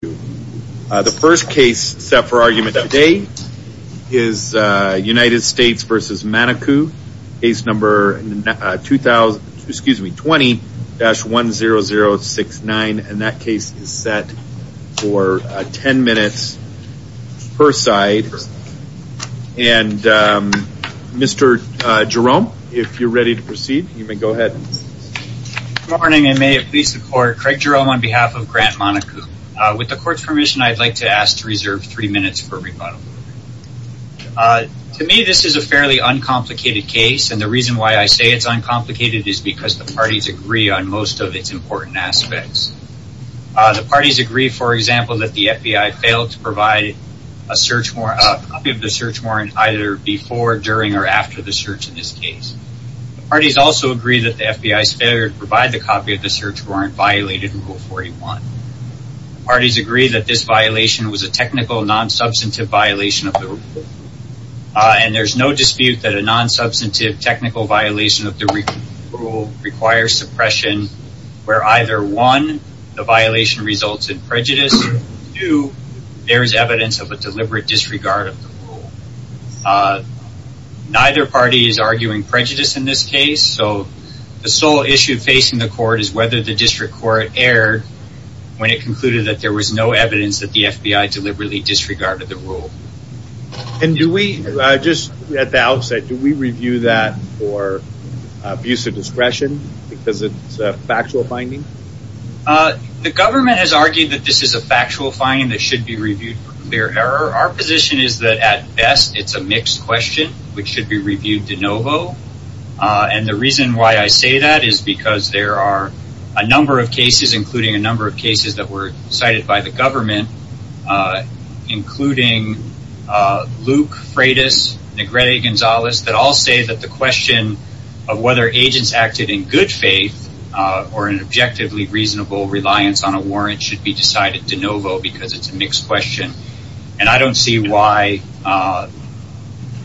The first case set for argument today is United States v. Manaku, case number 20-10069, and that case is set for 10 minutes per side. And Mr. Jerome, if you're ready to proceed, you may go ahead. MR. JEROME Good morning, and may it please the court, Craig Jerome on behalf of Grant Manaku. With the court's permission, I'd like to ask to reserve three minutes for rebuttal. To me, this is a fairly uncomplicated case, and the reason why I say it's uncomplicated is because the parties agree on most of its important aspects. The parties agree, for example, that the FBI failed to provide a search warrant, a copy of the search warrant, either before, during, or after the search in this case. The parties also agree that the FBI's failure to provide the copy of the search warrant violated Rule 41. The parties agree that this violation was a technical, non-substantive violation of the rule, and there's no dispute that a non-substantive, technical violation of the rule requires suppression where either, one, the violation results in prejudice, two, there is evidence of a deliberate disregard of the rule. Neither party is arguing prejudice in this case, so the sole issue facing the court is whether the district court erred when it concluded that there was no evidence that the FBI deliberately disregarded the rule. MR. GARGANO And do we, just at the outset, do we review that for abuse of discretion because it's a factual finding? MR. JEROME The government has argued that this is a factual finding that should be reviewed for clear error. Our position is that, at best, it's a mixed question which should be reviewed de novo, and the reason why I say that is because there are a number of cases, including a number of cases that were cited by the government, including Luke, Freitas, Negrete Gonzalez, that all say that the question of whether agents acted in good faith or in objectively reasonable reliance on a warrant should be decided de novo because it's a mixed question, and I don't see why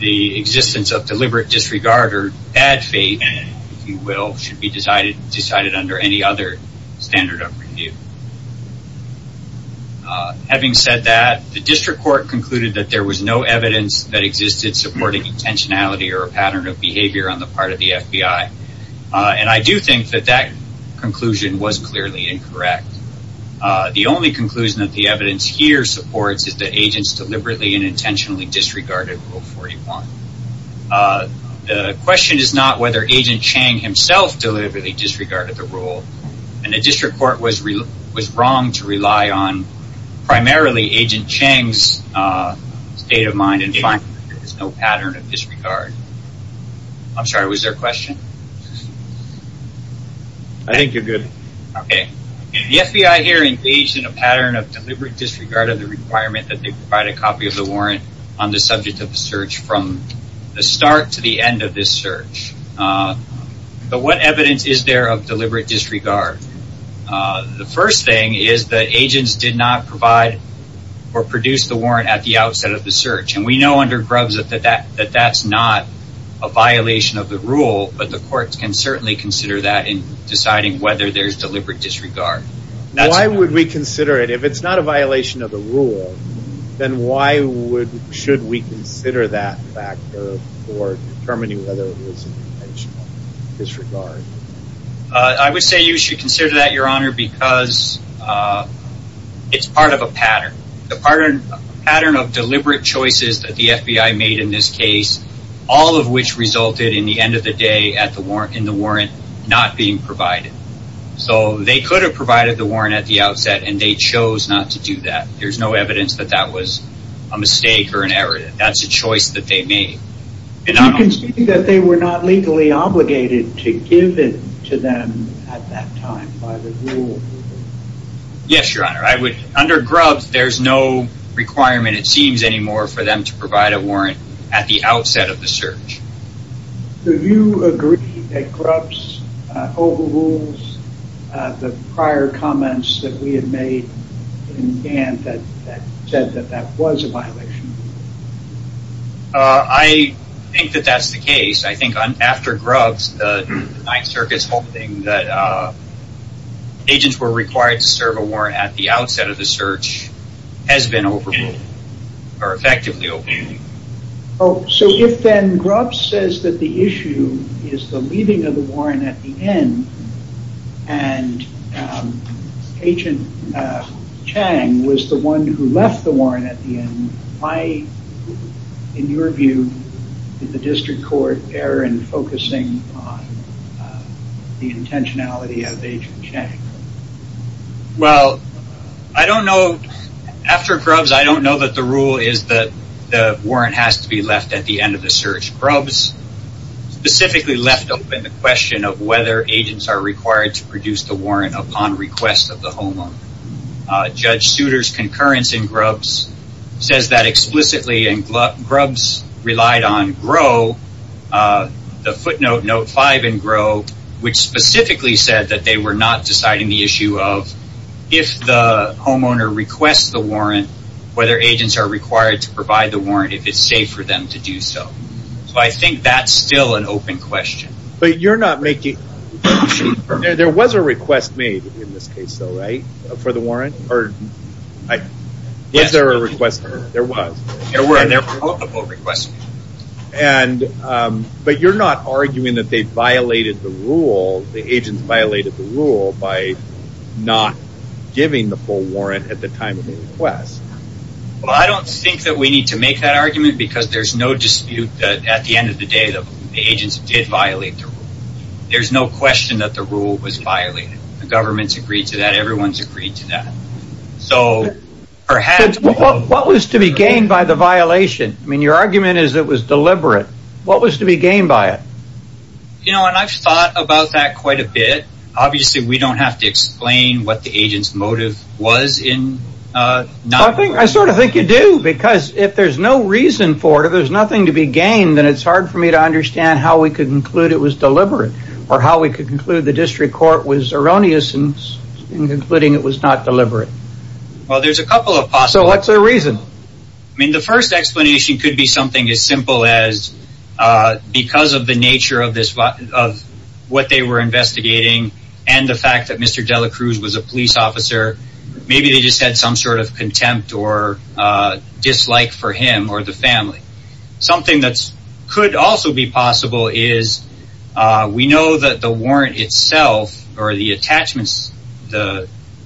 the existence of deliberate disregard or bad faith, if you will, should be decided under any other standard of review. Having said that, the district court concluded that there was no evidence that existed supporting intentionality or a pattern of behavior on the part of the FBI, and I do think that that conclusion was clearly incorrect. The only conclusion that the evidence here supports is that agents deliberately and intentionally disregarded Rule 41. The question is not whether Agent Chang himself deliberately disregarded the rule, and the district court was wrong to rely on primarily Agent Chang's state of mind and find there was no pattern of disregard. I'm sorry, was there a question? I think you're good. Okay. The FBI here engaged in a pattern of deliberate disregard of the requirement that they provide a copy of the warrant on the subject of the search from the start to the end of this search, but what evidence is there of deliberate disregard? The first thing is that agents did not provide or produce the warrant at the outset of the search, and we know under Grubbs that that's not a violation of the rule, but the courts can certainly consider that in deciding whether there's deliberate disregard. Why would we consider it? If it's not a violation of the rule, then why should we consider that factor for determining whether it was intentional disregard? I would say you should consider that, Your Honor, because it's part of a pattern, a pattern of deliberate choices that the FBI made in this case, all of which resulted in the end of the day in the warrant not being provided. So they could have provided the warrant at the outset, and they chose not to do that. There's no evidence that that was a mistake or an error. That's a choice that they made. Do you concede that they were not legally obligated to give it to them at that time by the rule? Yes, Your Honor. Under Grubbs, there's no requirement, it seems, anymore for them to provide a warrant at the outset of the search. Do you agree that Grubbs overrules the prior comments that we had made in Gant that said that that was a violation of the rule? I think that that's the case. I think after Grubbs, the Ninth Circuit's holding that agents who are required to serve a warrant at the outset of the search has been overruled, or effectively overruled. So if then Grubbs says that the issue is the leaving of the warrant at the end, and Agent Chang was the one who left the warrant at the end, why, in your view, did the District change? Well, I don't know. After Grubbs, I don't know that the rule is that the warrant has to be left at the end of the search. Grubbs specifically left open the question of whether agents are required to produce the warrant upon request of the homeowner. Judge Souter's concurrence in Grubbs says that explicitly, and Grubbs relied on GRO, the footnote, Note 5 in GRO, which specifically said that they were not deciding the issue of if the homeowner requests the warrant, whether agents are required to provide the warrant, if it's safe for them to do so. So I think that's still an open question. But you're not making... There was a request made in this case, though, right, for the warrant? Yes, there was. There were multiple requests. But you're not arguing that they violated the rule, the agents violated the rule, by not giving the full warrant at the time of the request. Well, I don't think that we need to make that argument, because there's no dispute that at the end of the day, the agents did violate the rule. There's no question that the rule was violated. The government's agreed to that, everyone's agreed to that. So perhaps... What was to be gained by the violation? I mean, your argument is it was deliberate. What was to be gained by it? You know, and I've thought about that quite a bit. Obviously, we don't have to explain what the agent's motive was in not... I sort of think you do, because if there's no reason for it, if there's nothing to be gained, then it's hard for me to understand how we could conclude it was deliberate, or how we could conclude the district court was erroneous in concluding it was not deliberate. Well, there's a couple of possibilities. So what's their reason? I mean, the first explanation could be something as simple as, because of the nature of what they were investigating, and the fact that Mr. De La Cruz was a police officer, maybe they just had some sort of contempt or dislike for him or the family. Something that could also be possible is, we know that the warrant itself, or the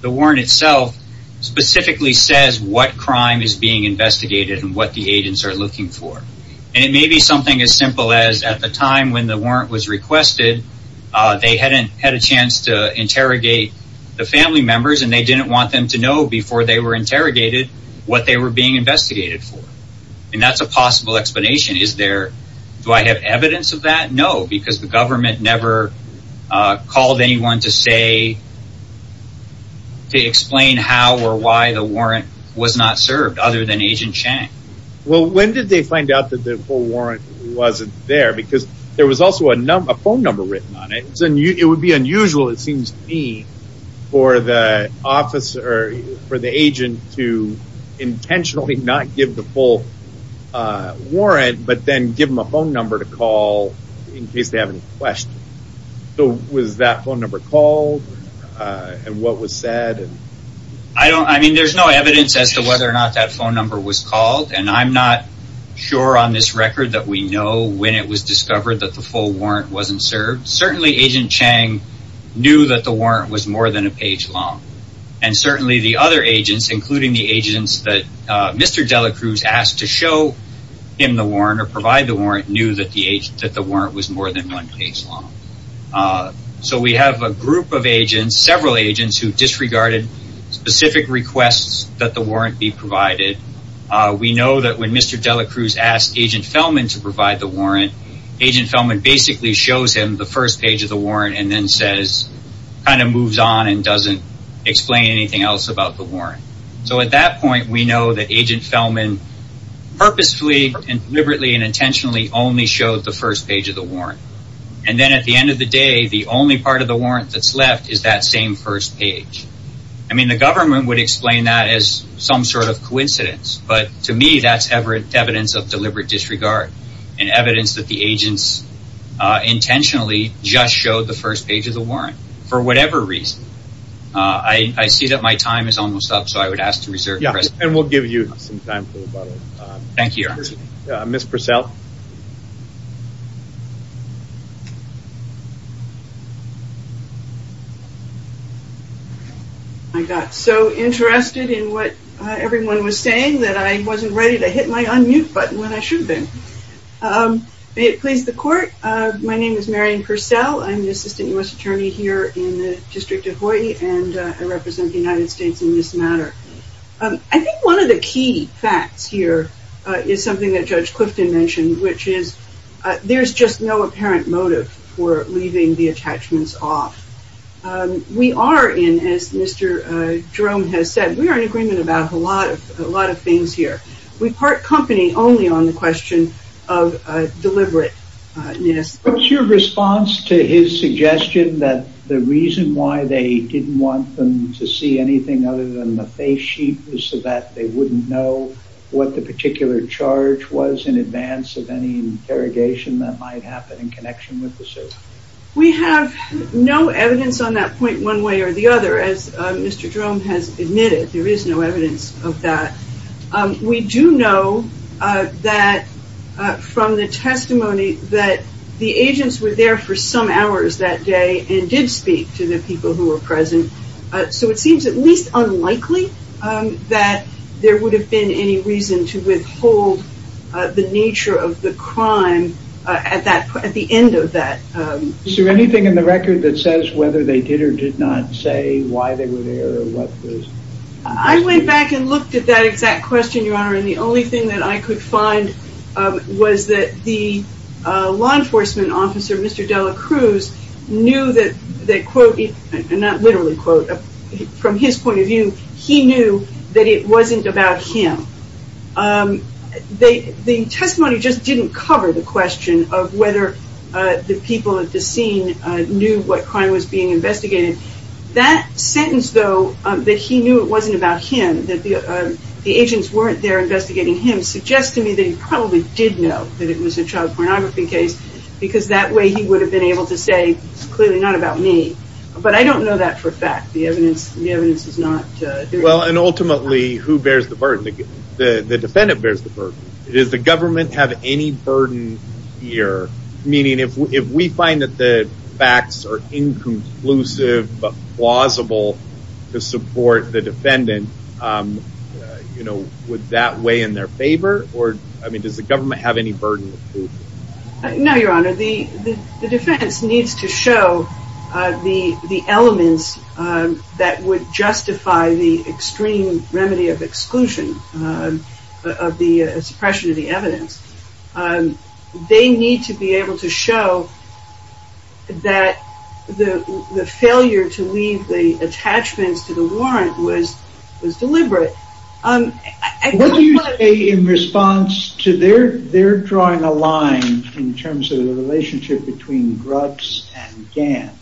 warrant itself, specifically says what crime is being investigated and what the agents are looking for. And it may be something as simple as, at the time when the warrant was requested, they hadn't had a chance to interrogate the family members, and they didn't want them to know before they were interrogated what they were being investigated for. And that's a possible explanation. Is there... Do I have evidence of that? No, because the government never called anyone to say, to explain how or why the warrant was not served, other than Agent Chang. Well, when did they find out that the full warrant wasn't there? Because there was also a phone number written on it. It would be unusual, it seems to me, for the agent to intentionally not give the full warrant, but then give them a phone number to call in case they have any questions. So, was that phone number called? And what was said? I don't... I mean, there's no evidence as to whether or not that phone number was called, and I'm not sure on this record that we know when it was discovered that the full warrant wasn't served. Certainly, Agent Chang knew that the warrant was more than a page long. And certainly, the other agents, including the agents that Mr. Delacruz asked to show him the warrant or provide the warrant, knew that the warrant was more than one page long. So, we have a group of agents, several agents, who disregarded specific requests that the warrant be provided. We know that when Mr. Delacruz asked Agent Fellman to provide the warrant, Agent Fellman basically shows him the first page of the warrant and then says, kind of moves on and doesn't explain anything else about the warrant. So, at that point, we know that Agent Fellman purposefully and deliberately and intentionally only showed the first page of the warrant. And then at the end of the day, the only part of the warrant that's left is that same first page. I mean, the government would explain that as some sort of coincidence, but to me, that's evidence of deliberate disregard and evidence that the agents intentionally just showed the first page of the warrant for whatever reason. I see that my time is almost up, so I would ask to reserve. Yeah, and we'll give you some time for rebuttal. Thank you. Ms. Purcell. I got so interested in what everyone was saying that I wasn't ready to hit my unmute button when I should have been. May it please the court, my name is Marion Purcell. I'm the Assistant U.S. Attorney here in the District of Hawaii and I represent the United States in this matter. I think one of the key facts here is something that Judge Clifton mentioned, which is there's just no apparent motive for leaving the attachments off. We are in, as Mr. Jerome has said, we are in agreement about a lot of things here. We part company only on the question of deliberateness. What's your response to his suggestion that the reason why they didn't want them to see anything other than the face sheet was so that they wouldn't know what the particular charge was in advance of any interrogation that might happen in connection with the search? We have no evidence on that point one way or the other. As Mr. Jerome has admitted, there is no evidence of that. We do know that from the testimony that the agents were there for some hours that day and did speak to the people who were present. So it seems at least unlikely that there would have been any reason to withhold the nature of the crime at the end of that. Is there anything in the record that says whether they did or did not say why they were there or what the... I went back and looked at that exact question, Your Honor, and the only thing that I could find was that the law enforcement officer, Mr. Dela Cruz, knew that, quote, not literally quote, from his point of view, he knew that it wasn't about him. The testimony just didn't cover the question of whether the people at the scene knew what crime was being investigated. That sentence, though, that he knew it wasn't about him, that the agents weren't there investigating him, suggests to me that he probably did know that it was a child pornography case because that way he would have been able to say clearly not about me. But I don't know that for a fact. The evidence is not... Well, and ultimately, who bears the burden? The defendant bears the burden. Does the government have any burden here? Meaning if we find that the facts are inconclusive but plausible to support the defendant, would that weigh in their favor? Does the government have any burden? No, Your Honor. The defense needs to show the elements that would justify the extreme remedy of exclusion of the suppression of the evidence. They need to be able to show that the failure to leave the attachments to the warrant was deliberate. What do you say in response to their drawing a line in terms of the relationship between Grubbs and Gant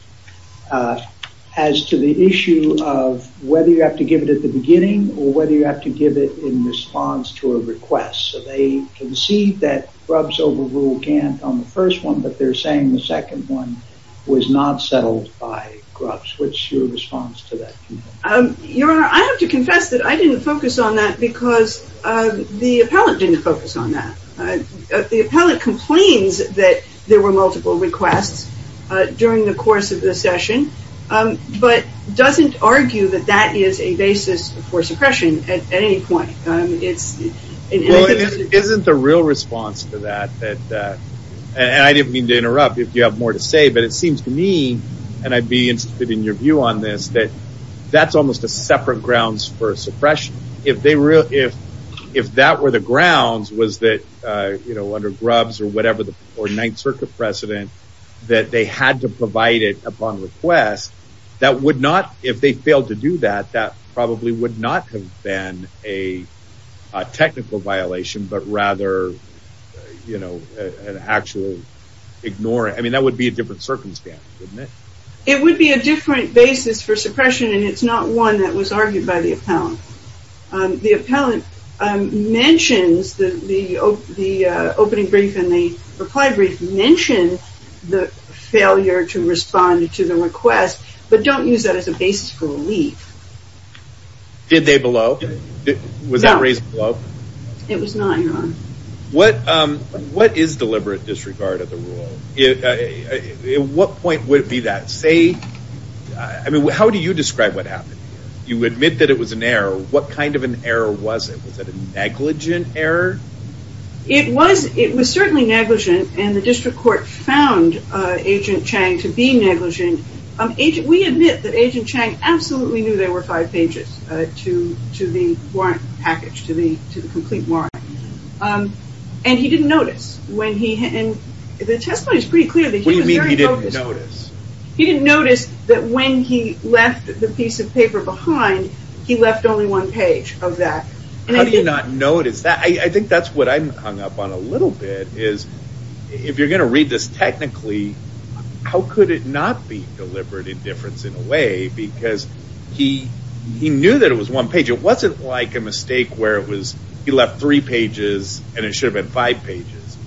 as to the issue of whether you have to give it at the beginning or whether you have to give it in response to a request? So they concede that Grubbs overruled Gant on the first one, but they're saying the second one was not settled by Grubbs. What's your response to that? Your Honor, I have to confess that I didn't focus on that because the appellant didn't focus on that. The appellant complains that there were multiple requests during the course of the session but doesn't argue that that is a basis for suppression at any point. Well, isn't the real response to that, and I didn't mean to interrupt if you have more to say, but it seems to me, and I'd be interested in your view on this, that that's almost a separate grounds for suppression. If that were the grounds, was that under Grubbs or whatever, or Ninth Circuit precedent, that they had to provide it upon request, that would not, if they failed to do that, that would be a technical violation, but rather, you know, an actual ignoring. I mean, that would be a different circumstance, wouldn't it? It would be a different basis for suppression, and it's not one that was argued by the appellant. The appellant mentions the opening brief and the reply brief mention the failure to respond to the request, but don't use that as a basis for relief. Did they below? Was that raised below? It was not, Your Honor. What is deliberate disregard of the rule? At what point would it be that? Say, I mean, how do you describe what happened? You admit that it was an error. What kind of an error was it? Was it a negligent error? It was certainly negligent, and the district court found Agent Chang to be negligent. We admit that Agent Chang absolutely knew there were five pages to the warrant package, to the complete warrant, and he didn't notice. The testimony is pretty clear that he was very focused. What do you mean he didn't notice? He didn't notice that when he left the piece of paper behind, he left only one page of that. How do you not notice that? I think that's what I'm hung up on a little bit, is if you're going to read this technically, how could it not be deliberate indifference in a way? Because he knew that it was one page. It wasn't like a mistake where he left three pages and it should have been five pages.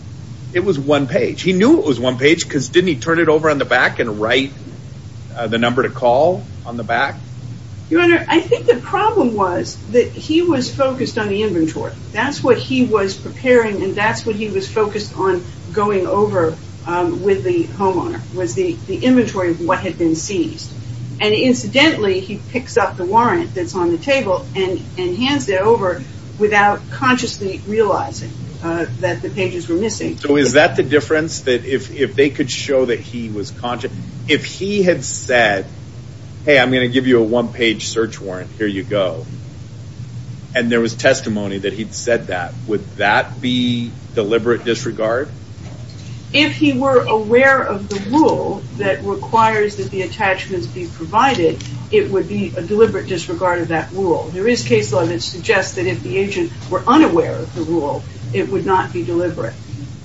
It was one page. He knew it was one page because didn't he turn it over on the back and write the number to call on the back? Your Honor, I think the problem was that he was focused on the inventory. That's what he was preparing and that's what he was focused on going over with the homeowner, was the inventory of what had been seized. And incidentally, he picks up the warrant that's on the table and hands it over without consciously realizing that the pages were missing. So is that the difference, that if they could show that he was conscious? If he had said, hey, I'm going to give you a one-page search warrant, here you go, and there was testimony that he'd said that, would that be deliberate disregard? If he were aware of the rule that requires that the attachments be provided, it would be a deliberate disregard of that rule. There is case law that suggests that if the agent were unaware of the rule, it would not be deliberate.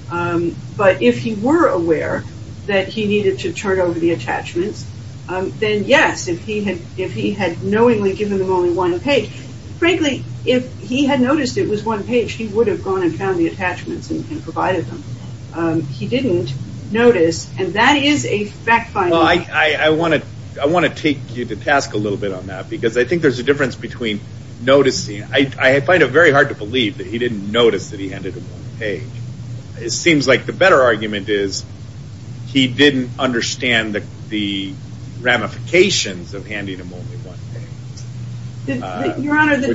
But if he were aware that he needed to turn over the attachments, then yes, if he had knowingly given them only one page, frankly, if he had noticed it was one page, he would have gone and found the attachments and provided them. He didn't notice, and that is a fact-finding. Well, I want to take you to task a little bit on that, because I think there's a difference between noticing. I find it very hard to believe that he didn't notice that he handed them one page. It seems like the better argument is, he didn't understand the ramifications of handing them only one page. He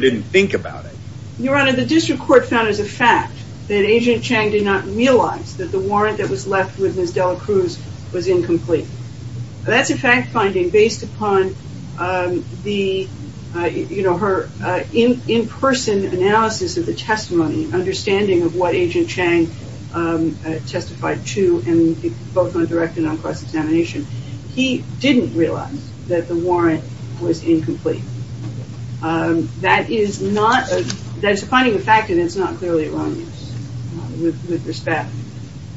didn't think about it. Your Honor, the district court found as a fact that Agent Chang did not realize that the warrant that was left with Ms. Dela Cruz was incomplete. That's a fact-finding based upon her in-person analysis of the testimony, understanding of what Agent Chang testified to, both on direct and on cross-examination. He didn't realize that the warrant was incomplete. That is finding a fact, and it's not clearly wrong with respect.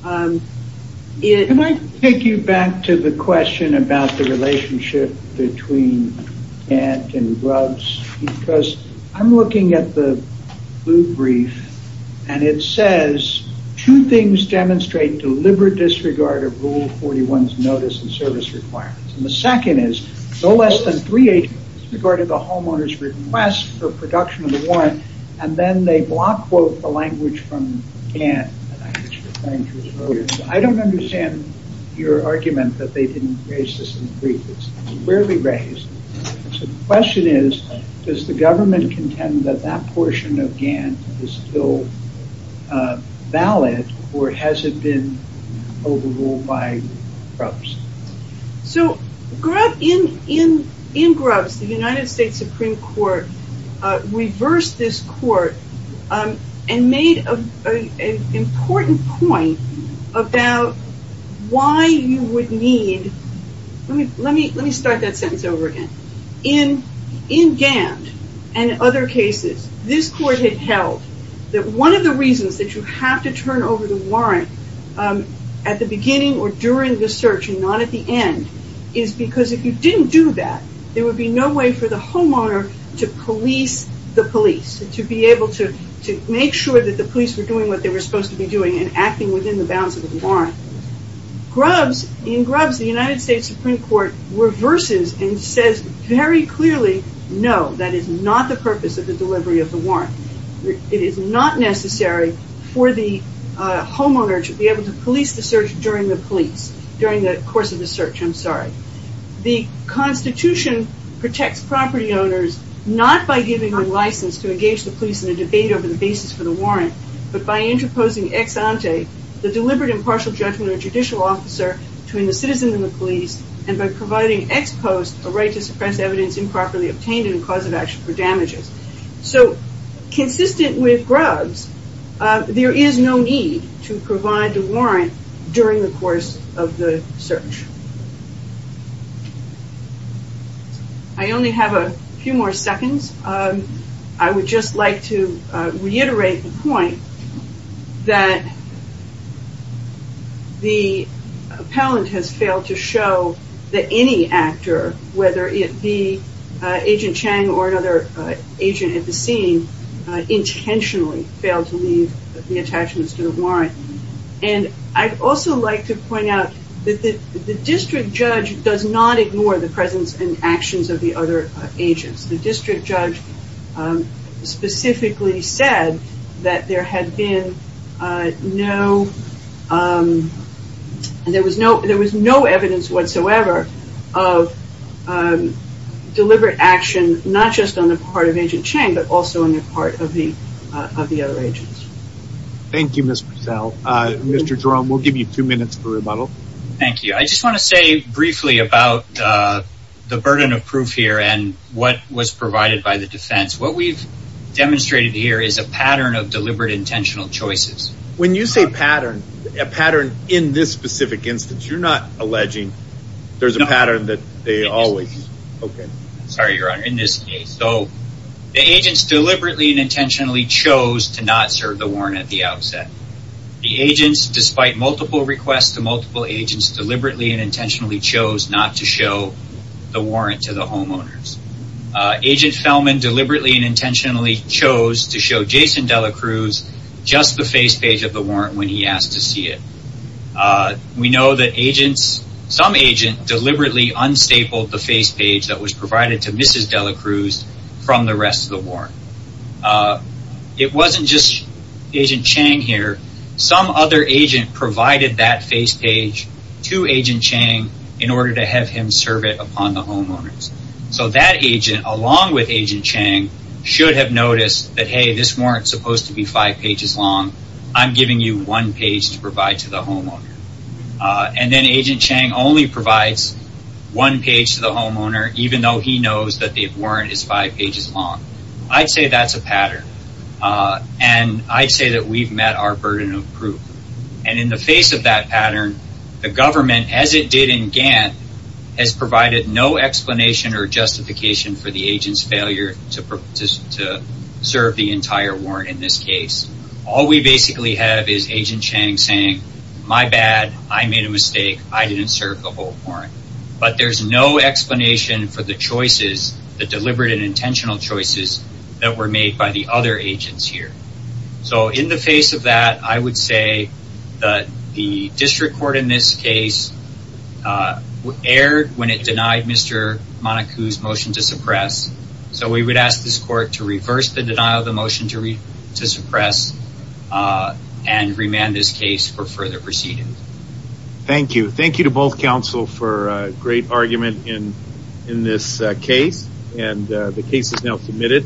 Can I take you back to the question about the relationship between Ant and Grubbs? Because I'm looking at the blue brief, and it says two things demonstrate deliberate disregard of Rule 41's notice and service requirements. The second is, no less than three agents regarded the homeowner's request for production of the warrant, and then they block quote the language from Ant. I don't understand your argument that they didn't raise this in the brief. It's rarely raised. So the question is, does the government contend that that portion of Gant is still valid, or has it been overruled by Grubbs? So in Grubbs, the United States Supreme Court reversed this court and made an important point about why you would need, let me start that sentence over again. In Gant, and in other cases, this court had held that one of the reasons that you have to turn over the warrant at the beginning or during the search and not at the end is because if you didn't do that, there would be no way for the homeowner to police the police, to be able to make sure that the police were doing what they were supposed to be doing and acting within the bounds of the warrant. In Grubbs, the United States Supreme Court reverses and says very clearly, no, that is not the purpose of the delivery of the warrant. It is not necessary for the homeowner to be able to police the search during the police, during the course of the search, I'm sorry. The Constitution protects property owners not by giving them license to engage the police in a debate over the basis for the warrant, but by interposing ex-ante, the deliberate impartial judgment of a judicial officer between the citizen and the police, and by providing ex-post a right to suppress evidence improperly obtained in a cause of action for damages. So consistent with Grubbs, there is no need to provide the warrant during the course of the search. I only have a few more seconds. I would just like to reiterate the point that the appellant has failed to show that any actor, whether it be Agent Chang or another agent at the scene, intentionally failed to leave the attachments to the warrant. And I'd also like to point out that the district judge does not ignore the presence and actions of the other agents. The district judge specifically said that there had been no, there was no evidence whatsoever of deliberate action, not just on the part of Agent Chang, but also on the part of the other agents. Thank you, Ms. Purcell. Mr. Jerome, we'll give you two minutes for rebuttal. Thank you. I just want to say briefly about the burden of proof here and what was provided by the defense. What we've demonstrated here is a pattern of deliberate intentional choices. When you say pattern, a pattern in this specific instance, you're not alleging there's a pattern that they always... Sorry, Your Honor, in this case. So the agents deliberately and intentionally chose to not serve the warrant at the outset. The agents, despite multiple requests to multiple agents, deliberately and intentionally chose not to show the warrant to the homeowners. Agent Fellman deliberately and intentionally chose to show Jason De La Cruz just the face page of the warrant when he asked to see it. We know that agents, some agents deliberately unstable the face page that was provided to Mrs. De La Cruz from the rest of the warrant. It wasn't just Agent Chang here. Some other agent provided that face page to Agent Chang in order to have him serve it upon the homeowners. So that agent, along with Agent Chang, should have noticed that, hey, this warrant's supposed to be five pages long. I'm giving you one page to provide to the homeowner. And then Agent Chang only provides one page to the homeowner, even though he knows that the warrant is five pages long. I'd say that's a pattern. And I'd say that we've met our burden of proof. And in the face of that pattern, the government, as it did in Gantt, has provided no explanation or justification for the agent's failure to serve the entire warrant in this case. All we basically have is Agent Chang saying, my bad, I made a mistake, I didn't serve the whole warrant. But there's no explanation for the choices, the deliberate and intentional choices that were made by the other agents here. So in the face of that, I would say that the district court in this case erred when it denied Mr. Monacou's motion to suppress. So we would ask this court to reverse the denial of the motion to suppress and remand this case for further proceedings. Thank you. Thank you to both counsel for a great argument in this case. And the case is now submitted.